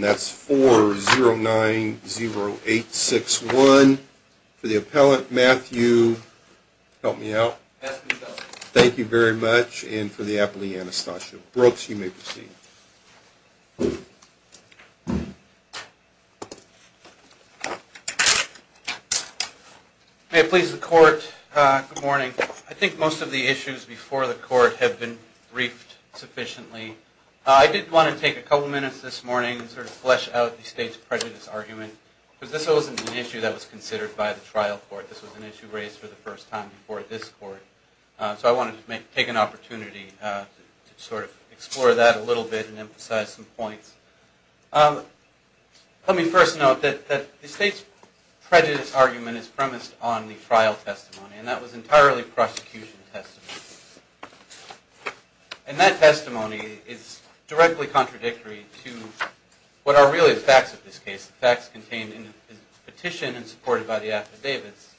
That's 4090861. For the appellant, Matthew. Help me out. Thank you very much. And for the appellee, Anastasia Brooks, you may proceed. May it please the court, good morning. I think most of the issues before the court have been briefed sufficiently. I did want to take a couple minutes this morning and sort of flesh out the state's prejudice argument, because this wasn't an issue that was considered by the trial court. This was an issue raised for the first time before this court. So I wanted to take an opportunity to sort of explore that a little bit and emphasize some points. Let me first note that the state's prejudice argument is premised on the trial testimony, and that was entirely prosecution testimony. And that testimony is directly contradictory to what are really the facts of this case, the facts contained in the petition and supported by the affidavits.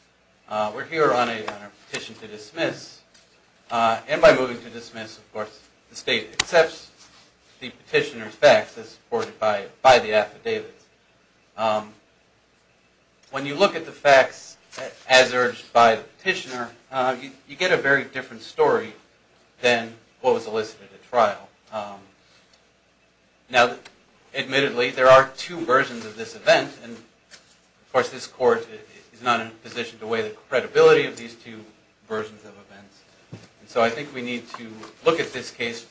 We're here on a petition to dismiss, and by moving to dismiss, of course, the state accepts the petitioner's facts as supported by the affidavits. When you look at the facts as urged by the petitioner, you get a very different story than what was elicited at trial. Now, admittedly, there are two versions of this event, and of course, this court is not in a position to weigh the credibility of these two versions of events. So I think we need to look at this case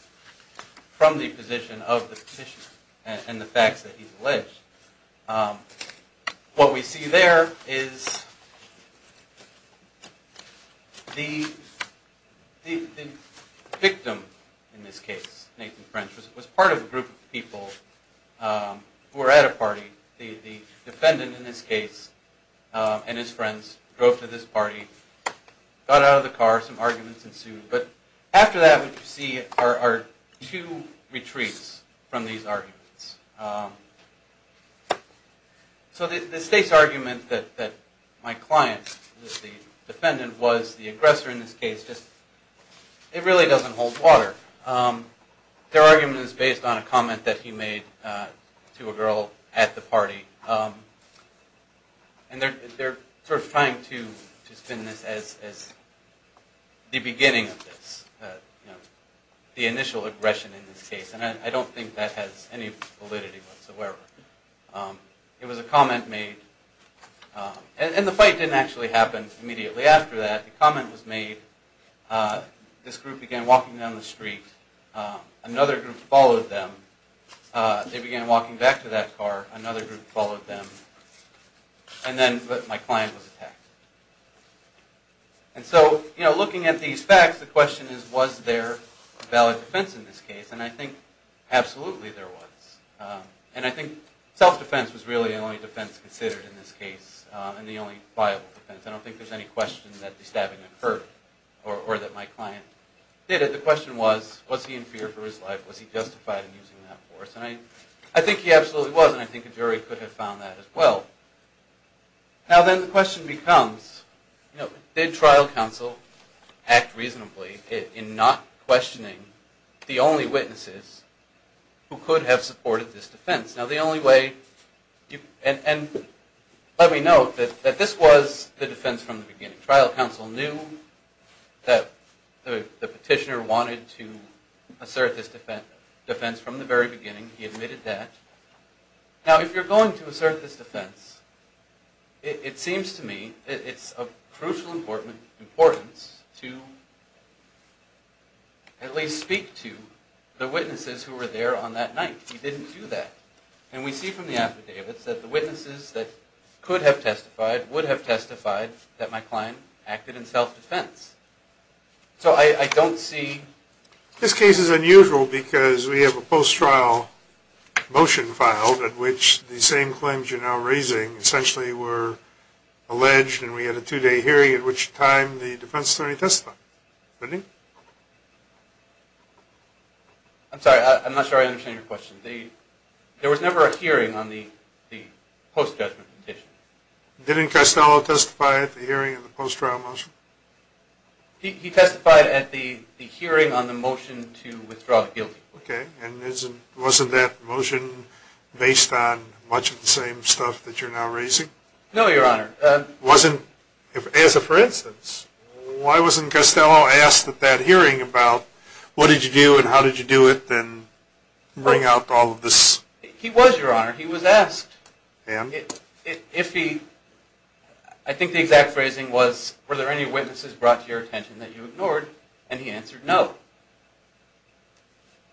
from the position of the petitioner and the facts that he's alleged. What we see there is the victim in this case, Nathan French, was part of a group of people who were at a party. The defendant in this case and his friends drove to this party, got out of the car, some arguments ensued. But after that, what you see are two retreats from these arguments. So the state's argument that my client, the defendant, was the aggressor in this case, it really doesn't hold water. Their argument is based on a comment that he made to a girl at the party. And they're sort of trying to spin this as the beginning of this, the initial aggression in this case, and I don't think that has any validity whatsoever. It was a comment made, and the fight didn't actually happen immediately after that. The comment was made, this group began walking down the street, another group followed them, they began walking back to that car, another group followed them, and then my client was attacked. And so, looking at these facts, the question is, was there valid defense in this case? And I think absolutely there was. And I think self-defense was really the only defense considered in this case, and the only viable defense. I don't think there's any question that the stabbing occurred, or that my client did it. The question was, was he in fear for his life? Was he justified in using that force? And I think he absolutely was, and I think a jury could have found that as well. Now then the question becomes, did trial counsel act reasonably in not questioning the only witnesses who could have supported this defense? Now the only way, and let me note that this was the defense from the beginning. Trial counsel knew that the petitioner wanted to assert this defense from the very beginning, he admitted that. Now if you're going to assert this defense, it seems to me it's of crucial importance to at least speak to the witnesses who were there on that night. He didn't do that. And we see from the affidavits that the witnesses that could have testified would have testified that my client acted in self-defense. So I don't see... This case is unusual because we have a post-trial motion filed at which the same claims you're now raising essentially were alleged, and we had a two-day hearing at which time the defense attorney testified. I'm sorry, I'm not sure I understand your question. There was never a hearing on the post-judgment petition. Didn't Costello testify at the hearing on the post-trial motion? He testified at the hearing on the motion to withdraw the guilty. Okay, and wasn't that motion based on much of the same stuff that you're now raising? No, Your Honor. As a for instance, why wasn't Costello asked at that hearing about what did you do and how did you do it and bring out all of this? He was, Your Honor, he was asked. And? I think the exact phrasing was, were there any witnesses brought to your attention that you ignored? And he answered no.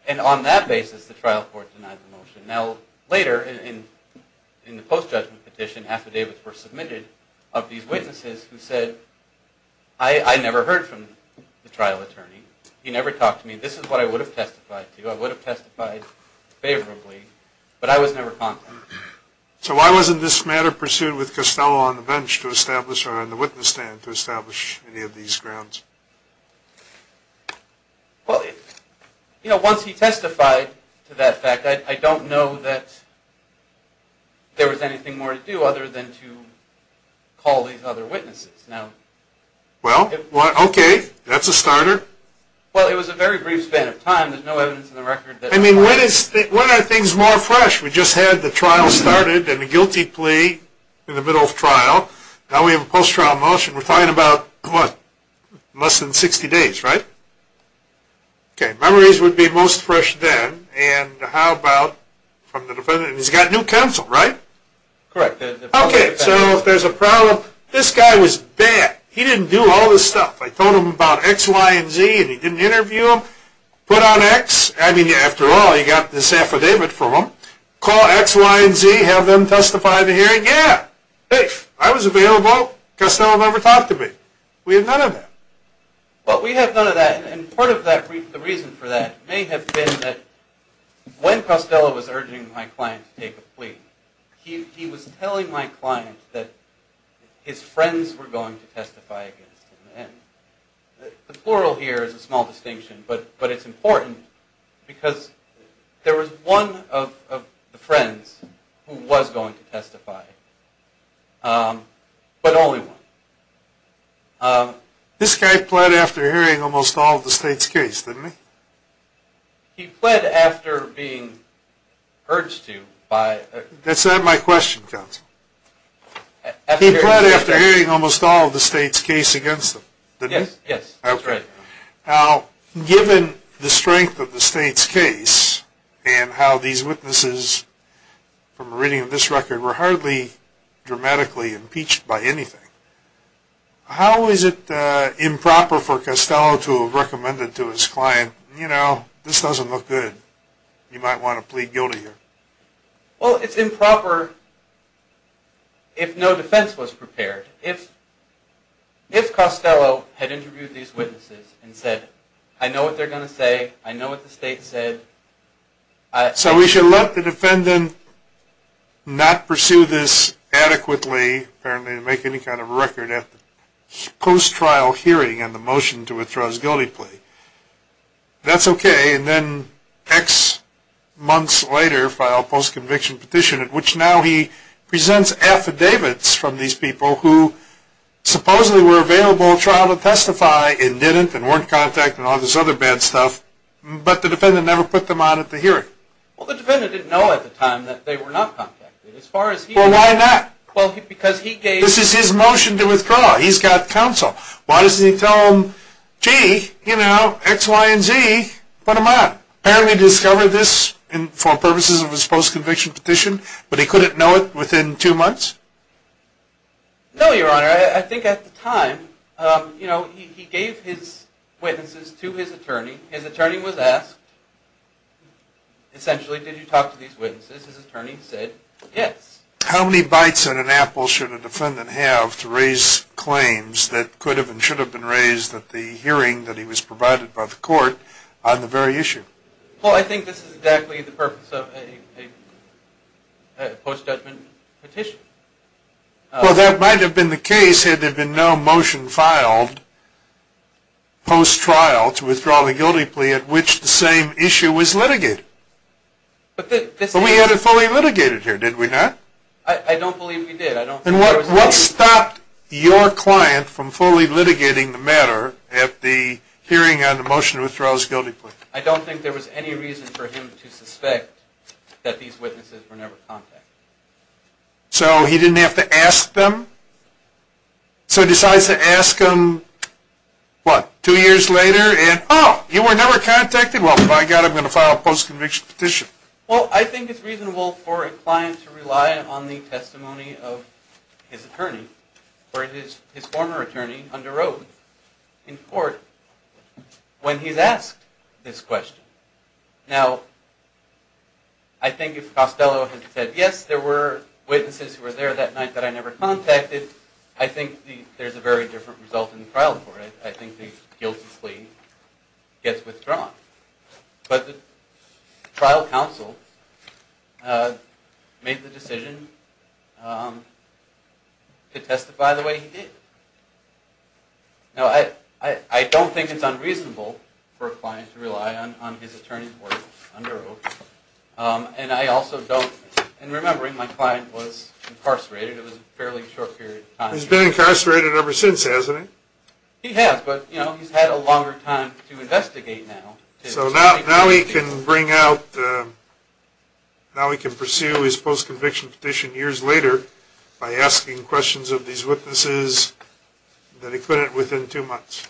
And on that basis, the trial court denied the motion. Now, later in the post-judgment petition, affidavits were submitted of these witnesses who said, I never heard from the trial attorney. He never talked to me. This is what I would have testified to. I would have testified favorably. But I was never contacted. So why wasn't this matter pursued with Costello on the bench to establish, or on the witness stand to establish any of these grounds? Well, you know, once he testified to that fact, I don't know that there was anything more to do other than to call these other witnesses. Well, okay. That's a starter. Well, it was a very brief span of time. There's no evidence in the record that… I mean, when are things more fresh? We just had the trial started and the guilty plea in the middle of trial. Now we have a post-trial motion. We're talking about, what, less than 60 days, right? Okay. Memories would be most fresh then. And how about from the defendant? And he's got new counsel, right? Correct. Okay. So if there's a problem, this guy was bad. He didn't do all this stuff. I told him about X, Y, and Z, and he didn't interview them. Put on X. I mean, after all, he got this affidavit from them. Call X, Y, and Z, have them testify at the hearing. Yeah! I was available. Costello never talked to me. We have none of that. Well, we have none of that. And part of the reason for that may have been that when Costello was urging my client to take a plea, he was telling my client that his friends were going to testify against him. And the plural here is a small distinction, but it's important because there was one of the friends who was going to testify, but only one. This guy pled after hearing almost all of the state's case, didn't he? He pled after being urged to. That's not my question, counsel. He pled after hearing almost all of the state's case against him, didn't he? Yes, that's right. Now, given the strength of the state's case and how these witnesses, from a reading of this record, were hardly dramatically impeached by anything, how is it improper for Costello to have recommended to his client, you know, this doesn't look good, you might want to plead guilty here? Well, it's improper if no defense was prepared. If Costello had interviewed these witnesses and said, I know what they're going to say, I know what the state said... So we should let the defendant not pursue this adequately, apparently to make any kind of record, at the post-trial hearing on the motion to withdraw his guilty plea. That's okay, and then X months later filed a post-conviction petition, at which now he presents affidavits from these people who supposedly were available at trial to testify and didn't, and weren't contacted and all this other bad stuff, but the defendant never put them on at the hearing. Well, the defendant didn't know at the time that they were not contacted. Well, why not? Because he gave... This is his motion to withdraw, he's got counsel. Why doesn't he tell them, gee, you know, X, Y, and Z, put them on. Apparently discovered this for purposes of his post-conviction petition, but he couldn't know it within two months? No, Your Honor. I think at the time, you know, he gave his witnesses to his attorney. His attorney was asked, essentially, did you talk to these witnesses? His attorney said, yes. How many bites on an apple should a defendant have to raise claims that could have and should have been raised at the hearing that he was provided by the court on the very issue? Well, I think this is exactly the purpose of a post-judgment petition. Well, that might have been the case had there been no motion filed post-trial to withdraw the guilty plea at which the same issue was litigated. But we had it fully litigated here, did we not? I don't believe we did. And what stopped your client from fully litigating the matter at the hearing on the motion to withdraw his guilty plea? I don't think there was any reason for him to suspect that these witnesses were never contacted. So he didn't have to ask them? So he decides to ask them, what, two years later and, oh, you were never contacted? Well, by God, I'm going to file a post-conviction petition. Well, I think it's reasonable for a client to rely on the testimony of his attorney or his former attorney under oath in court when he's asked this question. Now, I think if Costello had said, yes, there were witnesses who were there that night that I never contacted, I think there's a very different result in the trial court. I think the guilty plea gets withdrawn. But the trial counsel made the decision to testify the way he did. Now, I don't think it's unreasonable for a client to rely on his attorney's words under oath. And I also don't – and remembering, my client was incarcerated. It was a fairly short period of time. He's been incarcerated ever since, hasn't he? He has, but he's had a longer time to investigate now. So now he can bring out – now he can pursue his post-conviction petition years later by asking questions of these witnesses that he couldn't within two months.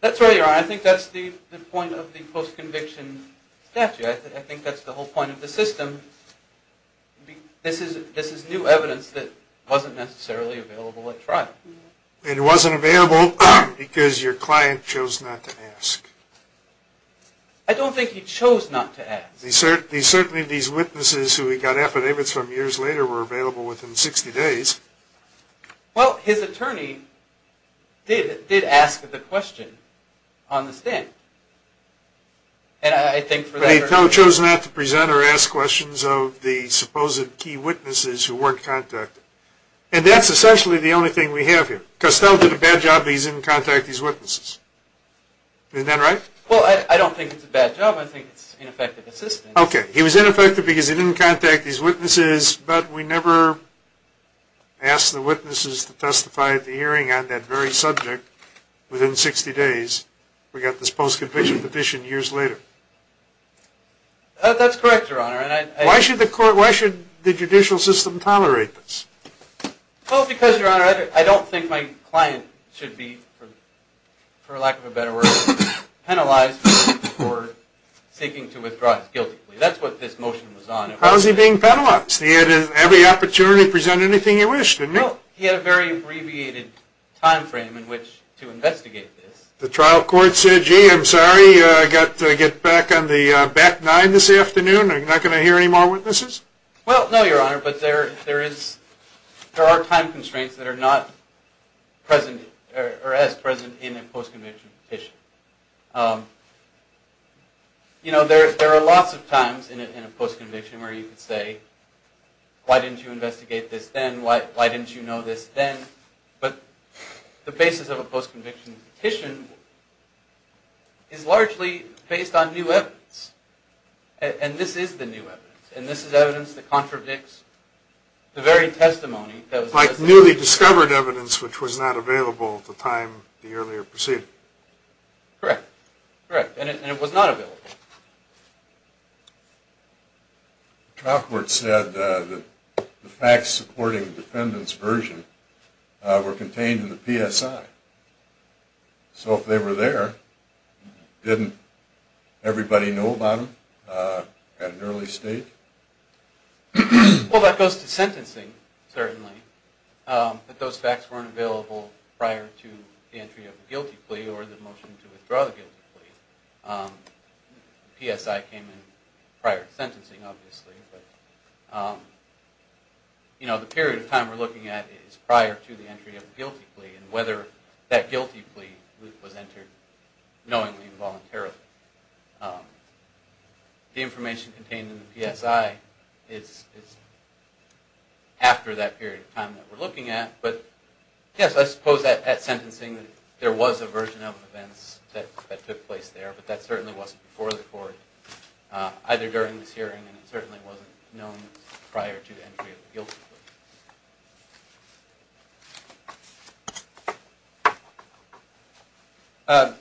That's right, Your Honor. I think that's the point of the post-conviction statute. I think that's the whole point of the system. This is new evidence that wasn't necessarily available at trial. And it wasn't available because your client chose not to ask. I don't think he chose not to ask. Certainly these witnesses who he got affidavits from years later were available within 60 days. Well, his attorney did ask the question on the stand. And I think for that – But he chose not to present or ask questions of the supposed key witnesses who weren't contacted. And that's essentially the only thing we have here. Costello did a bad job that he didn't contact these witnesses. Isn't that right? Well, I don't think it's a bad job. I think it's ineffective assistance. Okay. He was ineffective because he didn't contact these witnesses, but we never asked the witnesses to testify at the hearing on that very subject within 60 days. That's correct, Your Honor. Why should the judicial system tolerate this? Well, because, Your Honor, I don't think my client should be, for lack of a better word, penalized for seeking to withdraw his guilty plea. That's what this motion was on. How is he being penalized? He had every opportunity to present anything he wished, didn't he? Well, he had a very abbreviated time frame in which to investigate this. The trial court said, Oh, gee, I'm sorry. I've got to get back on the back nine this afternoon. I'm not going to hear any more witnesses? Well, no, Your Honor, but there are time constraints that are not present or as present in a post-conviction petition. You know, there are lots of times in a post-conviction where you could say, why didn't you investigate this then? Why didn't you know this then? But the basis of a post-conviction petition is largely based on new evidence, and this is the new evidence, and this is evidence that contradicts the very testimony that was presented. Like newly discovered evidence which was not available at the time the earlier proceeding. Correct. Correct. And it was not available. The trial court said that the facts supporting the defendant's version were contained in the PSI. So if they were there, didn't everybody know about them at an early stage? Well, that goes to sentencing, certainly, that those facts weren't available prior to the entry of the guilty plea or the motion to withdraw the guilty plea. The PSI came in prior to sentencing, obviously, but the period of time we're looking at is prior to the entry of the guilty plea, and whether that guilty plea was entered knowingly or voluntarily. The information contained in the PSI is after that period of time that we're looking at, but yes, I suppose that at sentencing there was a version of events that took place there, but that certainly wasn't before the court, either during this hearing, and it certainly wasn't known prior to the entry of the guilty plea.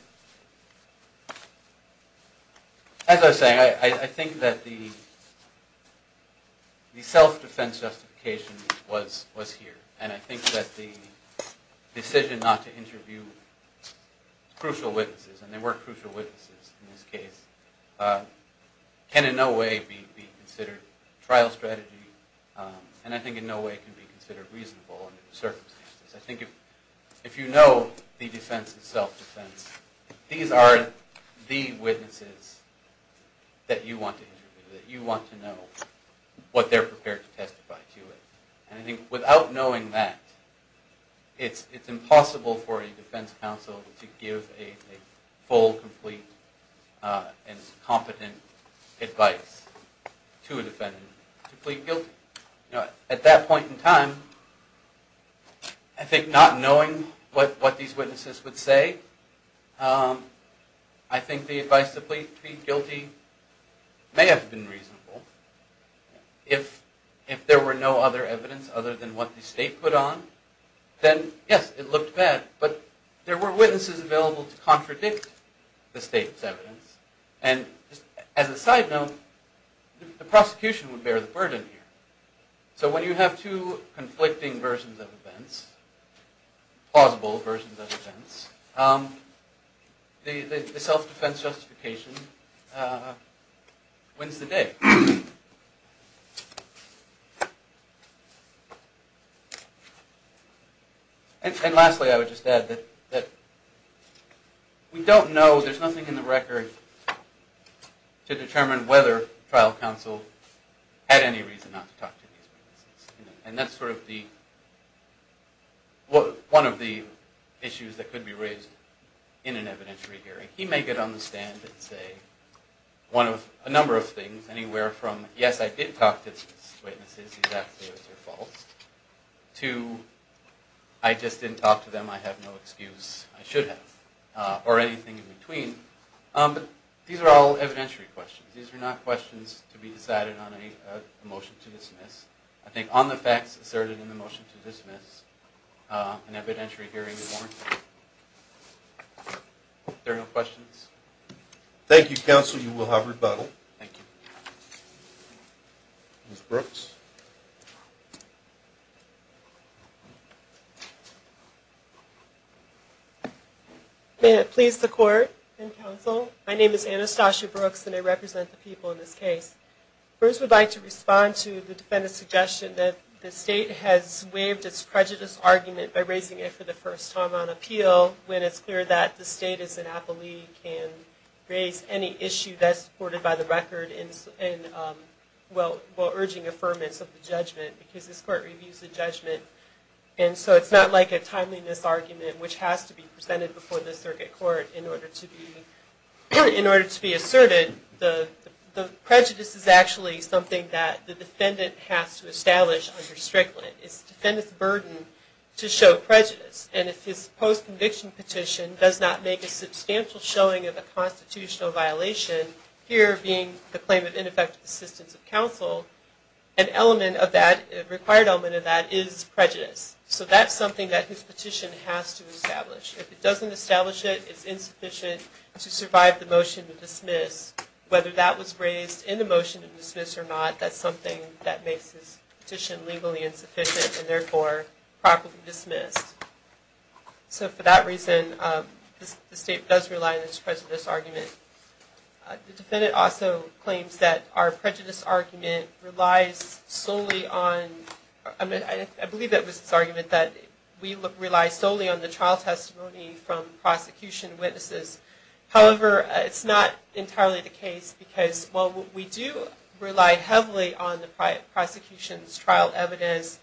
As I was saying, I think that the self-defense justification was here, and I think that the decision not to interview crucial witnesses, and there were crucial witnesses in this case, can in no way be considered trial strategy, and I think in no way can be considered reasonable under the circumstances. I think if you know the defense is self-defense, these are the witnesses that you want to interview, that you want to know what they're prepared to testify to. And I think without knowing that, it's impossible for a defense counsel to give a full, complete, and competent advice to a defendant to plead guilty. At that point in time, I think not knowing what these witnesses would say, I think the advice to plead guilty may have been reasonable. If there were no other evidence other than what the state put on, then yes, it looked bad, but there were witnesses available to contradict the state's evidence, and as a side note, the prosecution would bear the burden here. So when you have two conflicting versions of events, plausible versions of events, the self-defense justification wins the day. And lastly, I would just add that we don't know, there's nothing in the record to determine whether trial counsel had any reason not to talk to these witnesses, and that's sort of one of the issues that could be raised in an evidentiary hearing. He may get on the stand and say a number of things, anywhere from yes, I did talk to these witnesses, he's absolutely right, they're false, to I just didn't talk to them, I have no excuse, I should have, or anything in between, but these are all evidentiary questions. These are not questions to be decided on a motion to dismiss. I think on the facts asserted in the motion to dismiss, an evidentiary hearing is warranted. If there are no questions. Thank you, counsel, you will have rebuttal. Thank you. Ms. Brooks. May it please the court and counsel, my name is Anastasia Brooks and I represent the people in this case. First I would like to respond to the defendant's suggestion that the state has waived its prejudice argument by raising it for the first time on appeal when it's clear that the state as an appellee can raise any issue that's supported by the record while urging affirmance of the judgment because this court reviews the judgment and so it's not like a timeliness argument which has to be presented before the circuit court in order to be asserted. The prejudice is actually something that the defendant has to establish under Strickland. It's the defendant's burden to show prejudice and if his post-conviction petition does not make a substantial showing of a constitutional violation, here being the claim of ineffective assistance of counsel, an element of that, a required element of that, is prejudice. So that's something that his petition has to establish. If it doesn't establish it, it's insufficient to survive the motion to dismiss. Whether that was raised in the motion to dismiss or not, that's something that makes his petition legally insufficient and therefore properly dismissed. So for that reason, the state does rely on this prejudice argument. The defendant also claims that our prejudice argument relies solely on, I believe that was his argument, that we rely solely on the trial testimony from prosecution witnesses. However, it's not entirely the case because while we do rely heavily on the prosecution's trial evidence,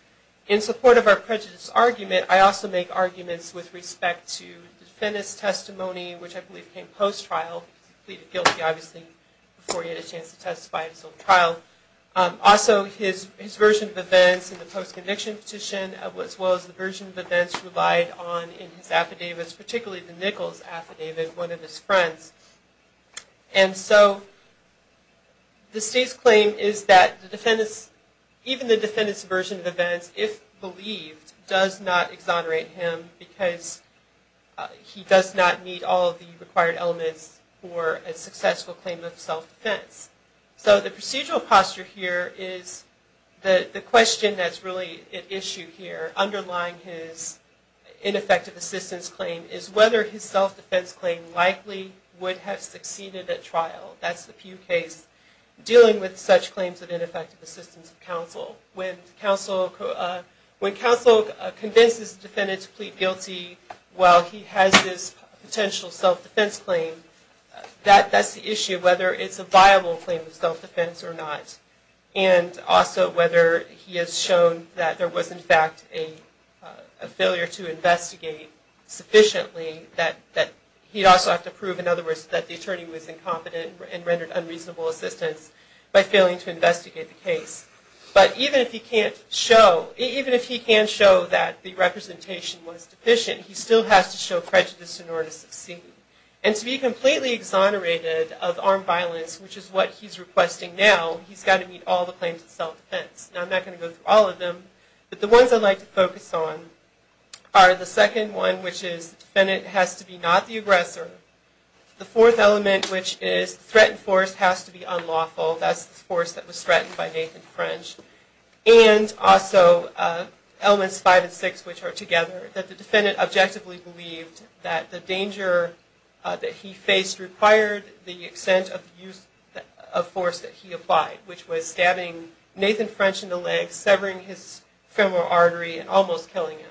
in support of our prejudice argument, I also make arguments with respect to the defendant's testimony, which I believe came post-trial. He pleaded guilty, obviously, before he had a chance to testify at his own trial. Also, his version of events in the post-conviction petition, as well as the version of events relied on in his affidavits, particularly the Nichols affidavit, one of his friends. And so, the state's claim is that the defendant's, even the defendant's version of events, if believed, does not exonerate him because he does not meet all the required elements for a successful claim of self-defense. So, the procedural posture here is the question that's really at issue here, underlying his ineffective assistance claim, is whether his self-defense claim likely would have succeeded at trial. That's the Pew case, dealing with such claims of ineffective assistance of counsel. When counsel convinces the defendant to plead guilty while he has this potential self-defense claim, that's the issue, whether it's a viable claim of self-defense or not. And also, whether he has shown that there was, in fact, a failure to investigate sufficiently, that he'd also have to prove, in other words, that the attorney was incompetent and rendered unreasonable assistance by failing to investigate the case. But even if he can't show, even if he can show that the representation was deficient, he still has to show prejudice in order to succeed. And to be completely exonerated of armed violence, which is what he's requesting now, he's got to meet all the claims of self-defense. Now, I'm not going to go through all of them, but the ones I'd like to focus on are the second one, which is the defendant has to be not the aggressor. The fourth element, which is threatened force has to be unlawful. That's the force that was threatened by Nathan French. And also, elements five and six, which are together, that the defendant objectively believed that the danger that he faced required the extent of force that he applied, which was stabbing Nathan French in the leg, severing his femoral artery, and almost killing him.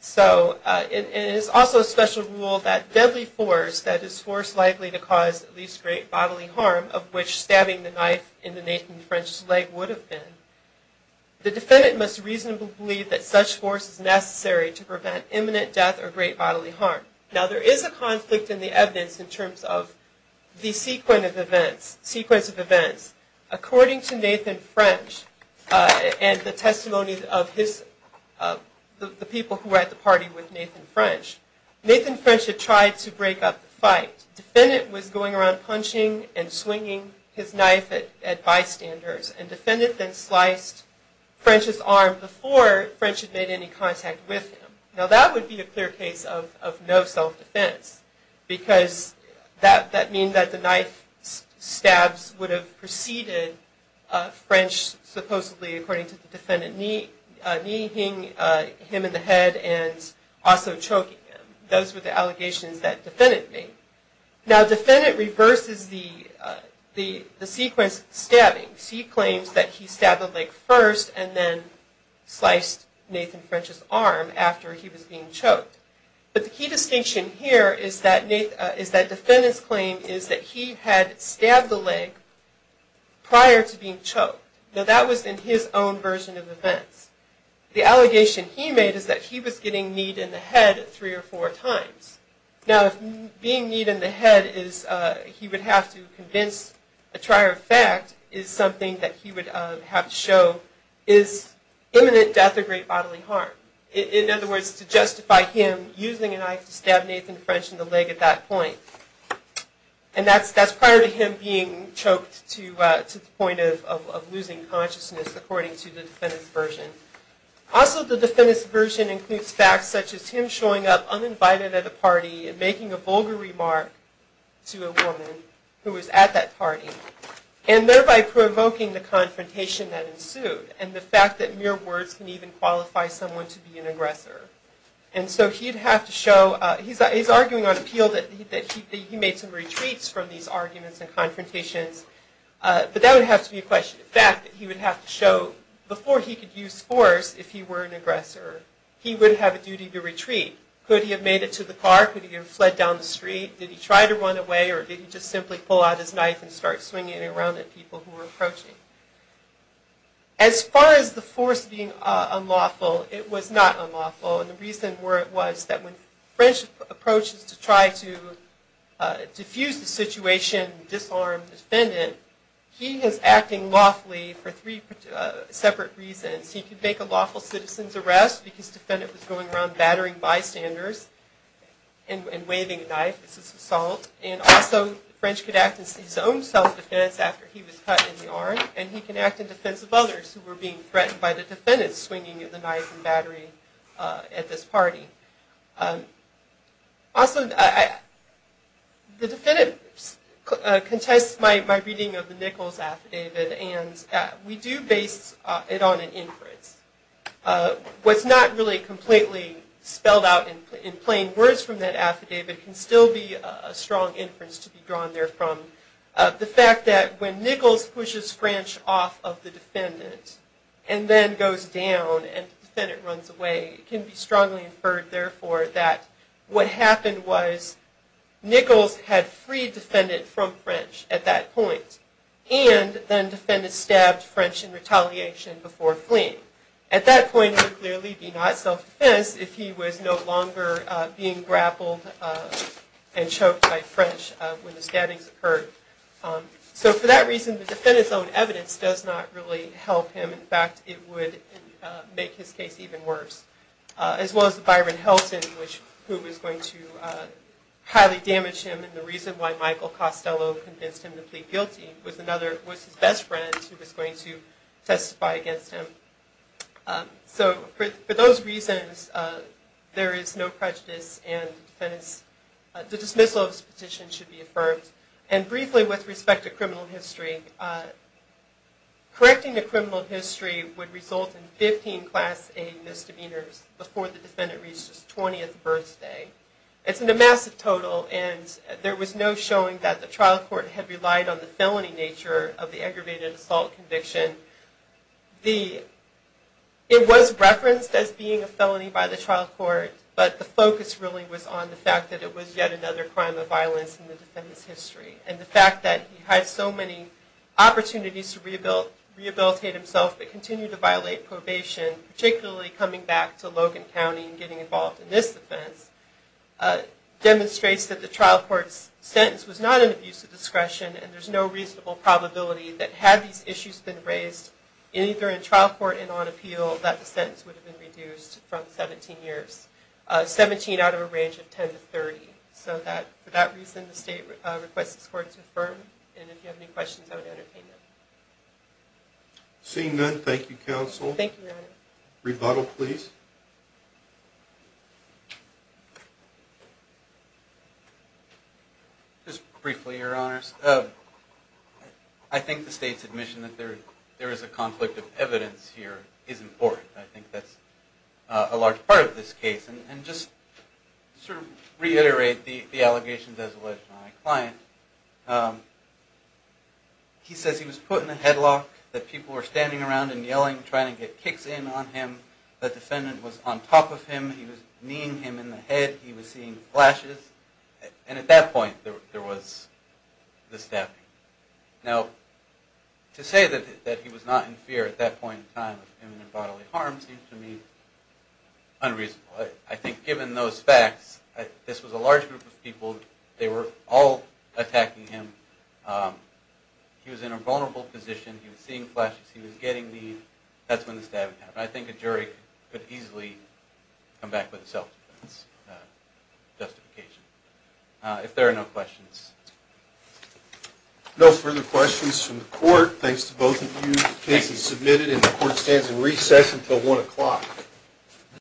So it is also a special rule that deadly force, that is force likely to cause at least great bodily harm, of which stabbing the knife in the Nathan French's leg would have been, the defendant must reasonably believe that such force is necessary to prevent imminent death or great bodily harm. Now, there is a conflict in the evidence in terms of the sequence of events. According to Nathan French, and the testimony of the people who were at the party with Nathan French, Nathan French had tried to break up the fight. The defendant was going around punching and swinging his knife at bystanders, and the defendant then sliced French's arm before French had made any contact with him. Now, that would be a clear case of no self-defense, because that means that the knife stabs would have preceded French supposedly, according to the defendant, kneeling him in the head and also choking him. Those were the allegations that the defendant made. Now, the defendant reverses the sequence of stabbing. He claims that he stabbed the leg first and then sliced Nathan French's arm after he was being choked. But the key distinction here is that the defendant's claim is that he had stabbed the leg prior to being choked. Now, that was in his own version of events. The allegation he made is that he was getting kneed in the head three or four times. Now, being kneed in the head is, he would have to convince a trier of fact, is something that he would have to show is imminent death or great bodily harm. In other words, to justify him using a knife to stab Nathan French in the leg at that point. And that's prior to him being choked to the point of losing consciousness, according to the defendant's version. Also, the defendant's version includes facts such as him showing up uninvited at a party and making a vulgar remark to a woman who was at that party. And thereby provoking the confrontation that ensued. And the fact that mere words can even qualify someone to be an aggressor. And so he'd have to show, he's arguing on appeal that he made some retreats from these arguments and confrontations. But that would have to be a question. The fact that he would have to show, before he could use force if he were an aggressor, he would have a duty to retreat. Could he have made it to the car? Could he have fled down the street? Did he try to run away or did he just simply pull out his knife and start swinging it around at people who were approaching? As far as the force being unlawful, it was not unlawful. And the reason for it was that when French approaches to try to diffuse the situation and disarm the defendant, he is acting lawfully for three separate reasons. He could make a lawful citizen's arrest because the defendant was going around battering bystanders and waving a knife. This is assault. And also, French could act in his own self-defense after he was cut in the arm. And he can act in defense of others who were being threatened by the defendant swinging the knife and battering at this party. Also, the defendant contests my reading of the Nichols affidavit and we do base it on an inference. What's not really completely spelled out in plain words from that affidavit can still be a strong inference to be drawn there from. The fact that when Nichols pushes French off of the defendant and then goes down and the defendant runs away, it can be strongly inferred, therefore, that what happened was Nichols had freed the defendant from French at that point. And then the defendant stabbed French in retaliation before fleeing. At that point, it would clearly be not self-defense if he was no longer being grappled and choked by French when the stabbings occurred. So for that reason, the defendant's own evidence does not really help him. In fact, it would make his case even worse. As well as the Byron Helton, who was going to highly damage him and the reason why Michael Costello convinced him to plead guilty, was his best friend who was going to testify against him. So for those reasons, there is no prejudice and the dismissal of this petition should be affirmed. And briefly, with respect to criminal history, correcting the criminal history would result in 15 Class A misdemeanors before the defendant reaches his 20th birthday. It's a massive total and there was no showing that the trial court had relied on the felony nature of the aggravated assault conviction. It was referenced as being a felony by the trial court, but the focus really was on the fact that it was yet another crime of violence in the defendant's history. And the fact that he had so many opportunities to rehabilitate himself but continued to violate probation, particularly coming back to Logan County and getting involved in this offense, demonstrates that the trial court's sentence was not an abuse of discretion and there's no reasonable probability that had these issues been raised, either in trial court and on appeal, that the sentence would have been reduced from 17 years. 17 out of a range of 10 to 30. So for that reason, the state requests this court to affirm. And if you have any questions, I would entertain them. Seeing none, thank you, Counsel. Thank you, Your Honor. Rebuttal, please. Just briefly, Your Honors. I think the state's admission that there is a conflict of evidence here is important. I think that's a large part of this case. And just to reiterate the allegations as alleged by my client, he says he was put in a headlock, that people were standing around and yelling, trying to get kicks in on him. The defendant was on top of him. He was kneeing him in the head. He was seeing flashes. And at that point, there was the stabbing. Now, to say that he was not in fear at that point in time of bodily harm seems to me unreasonable. I think given those facts, this was a large group of people. They were all attacking him. He was in a vulnerable position. He was seeing flashes. He was getting kneed. That's when the stabbing happened. I think a jury could easily come back with a self-defense justification. If there are no questions. No further questions from the court. Thanks to both of you. The case is submitted and the court stands in recess until 1 o'clock.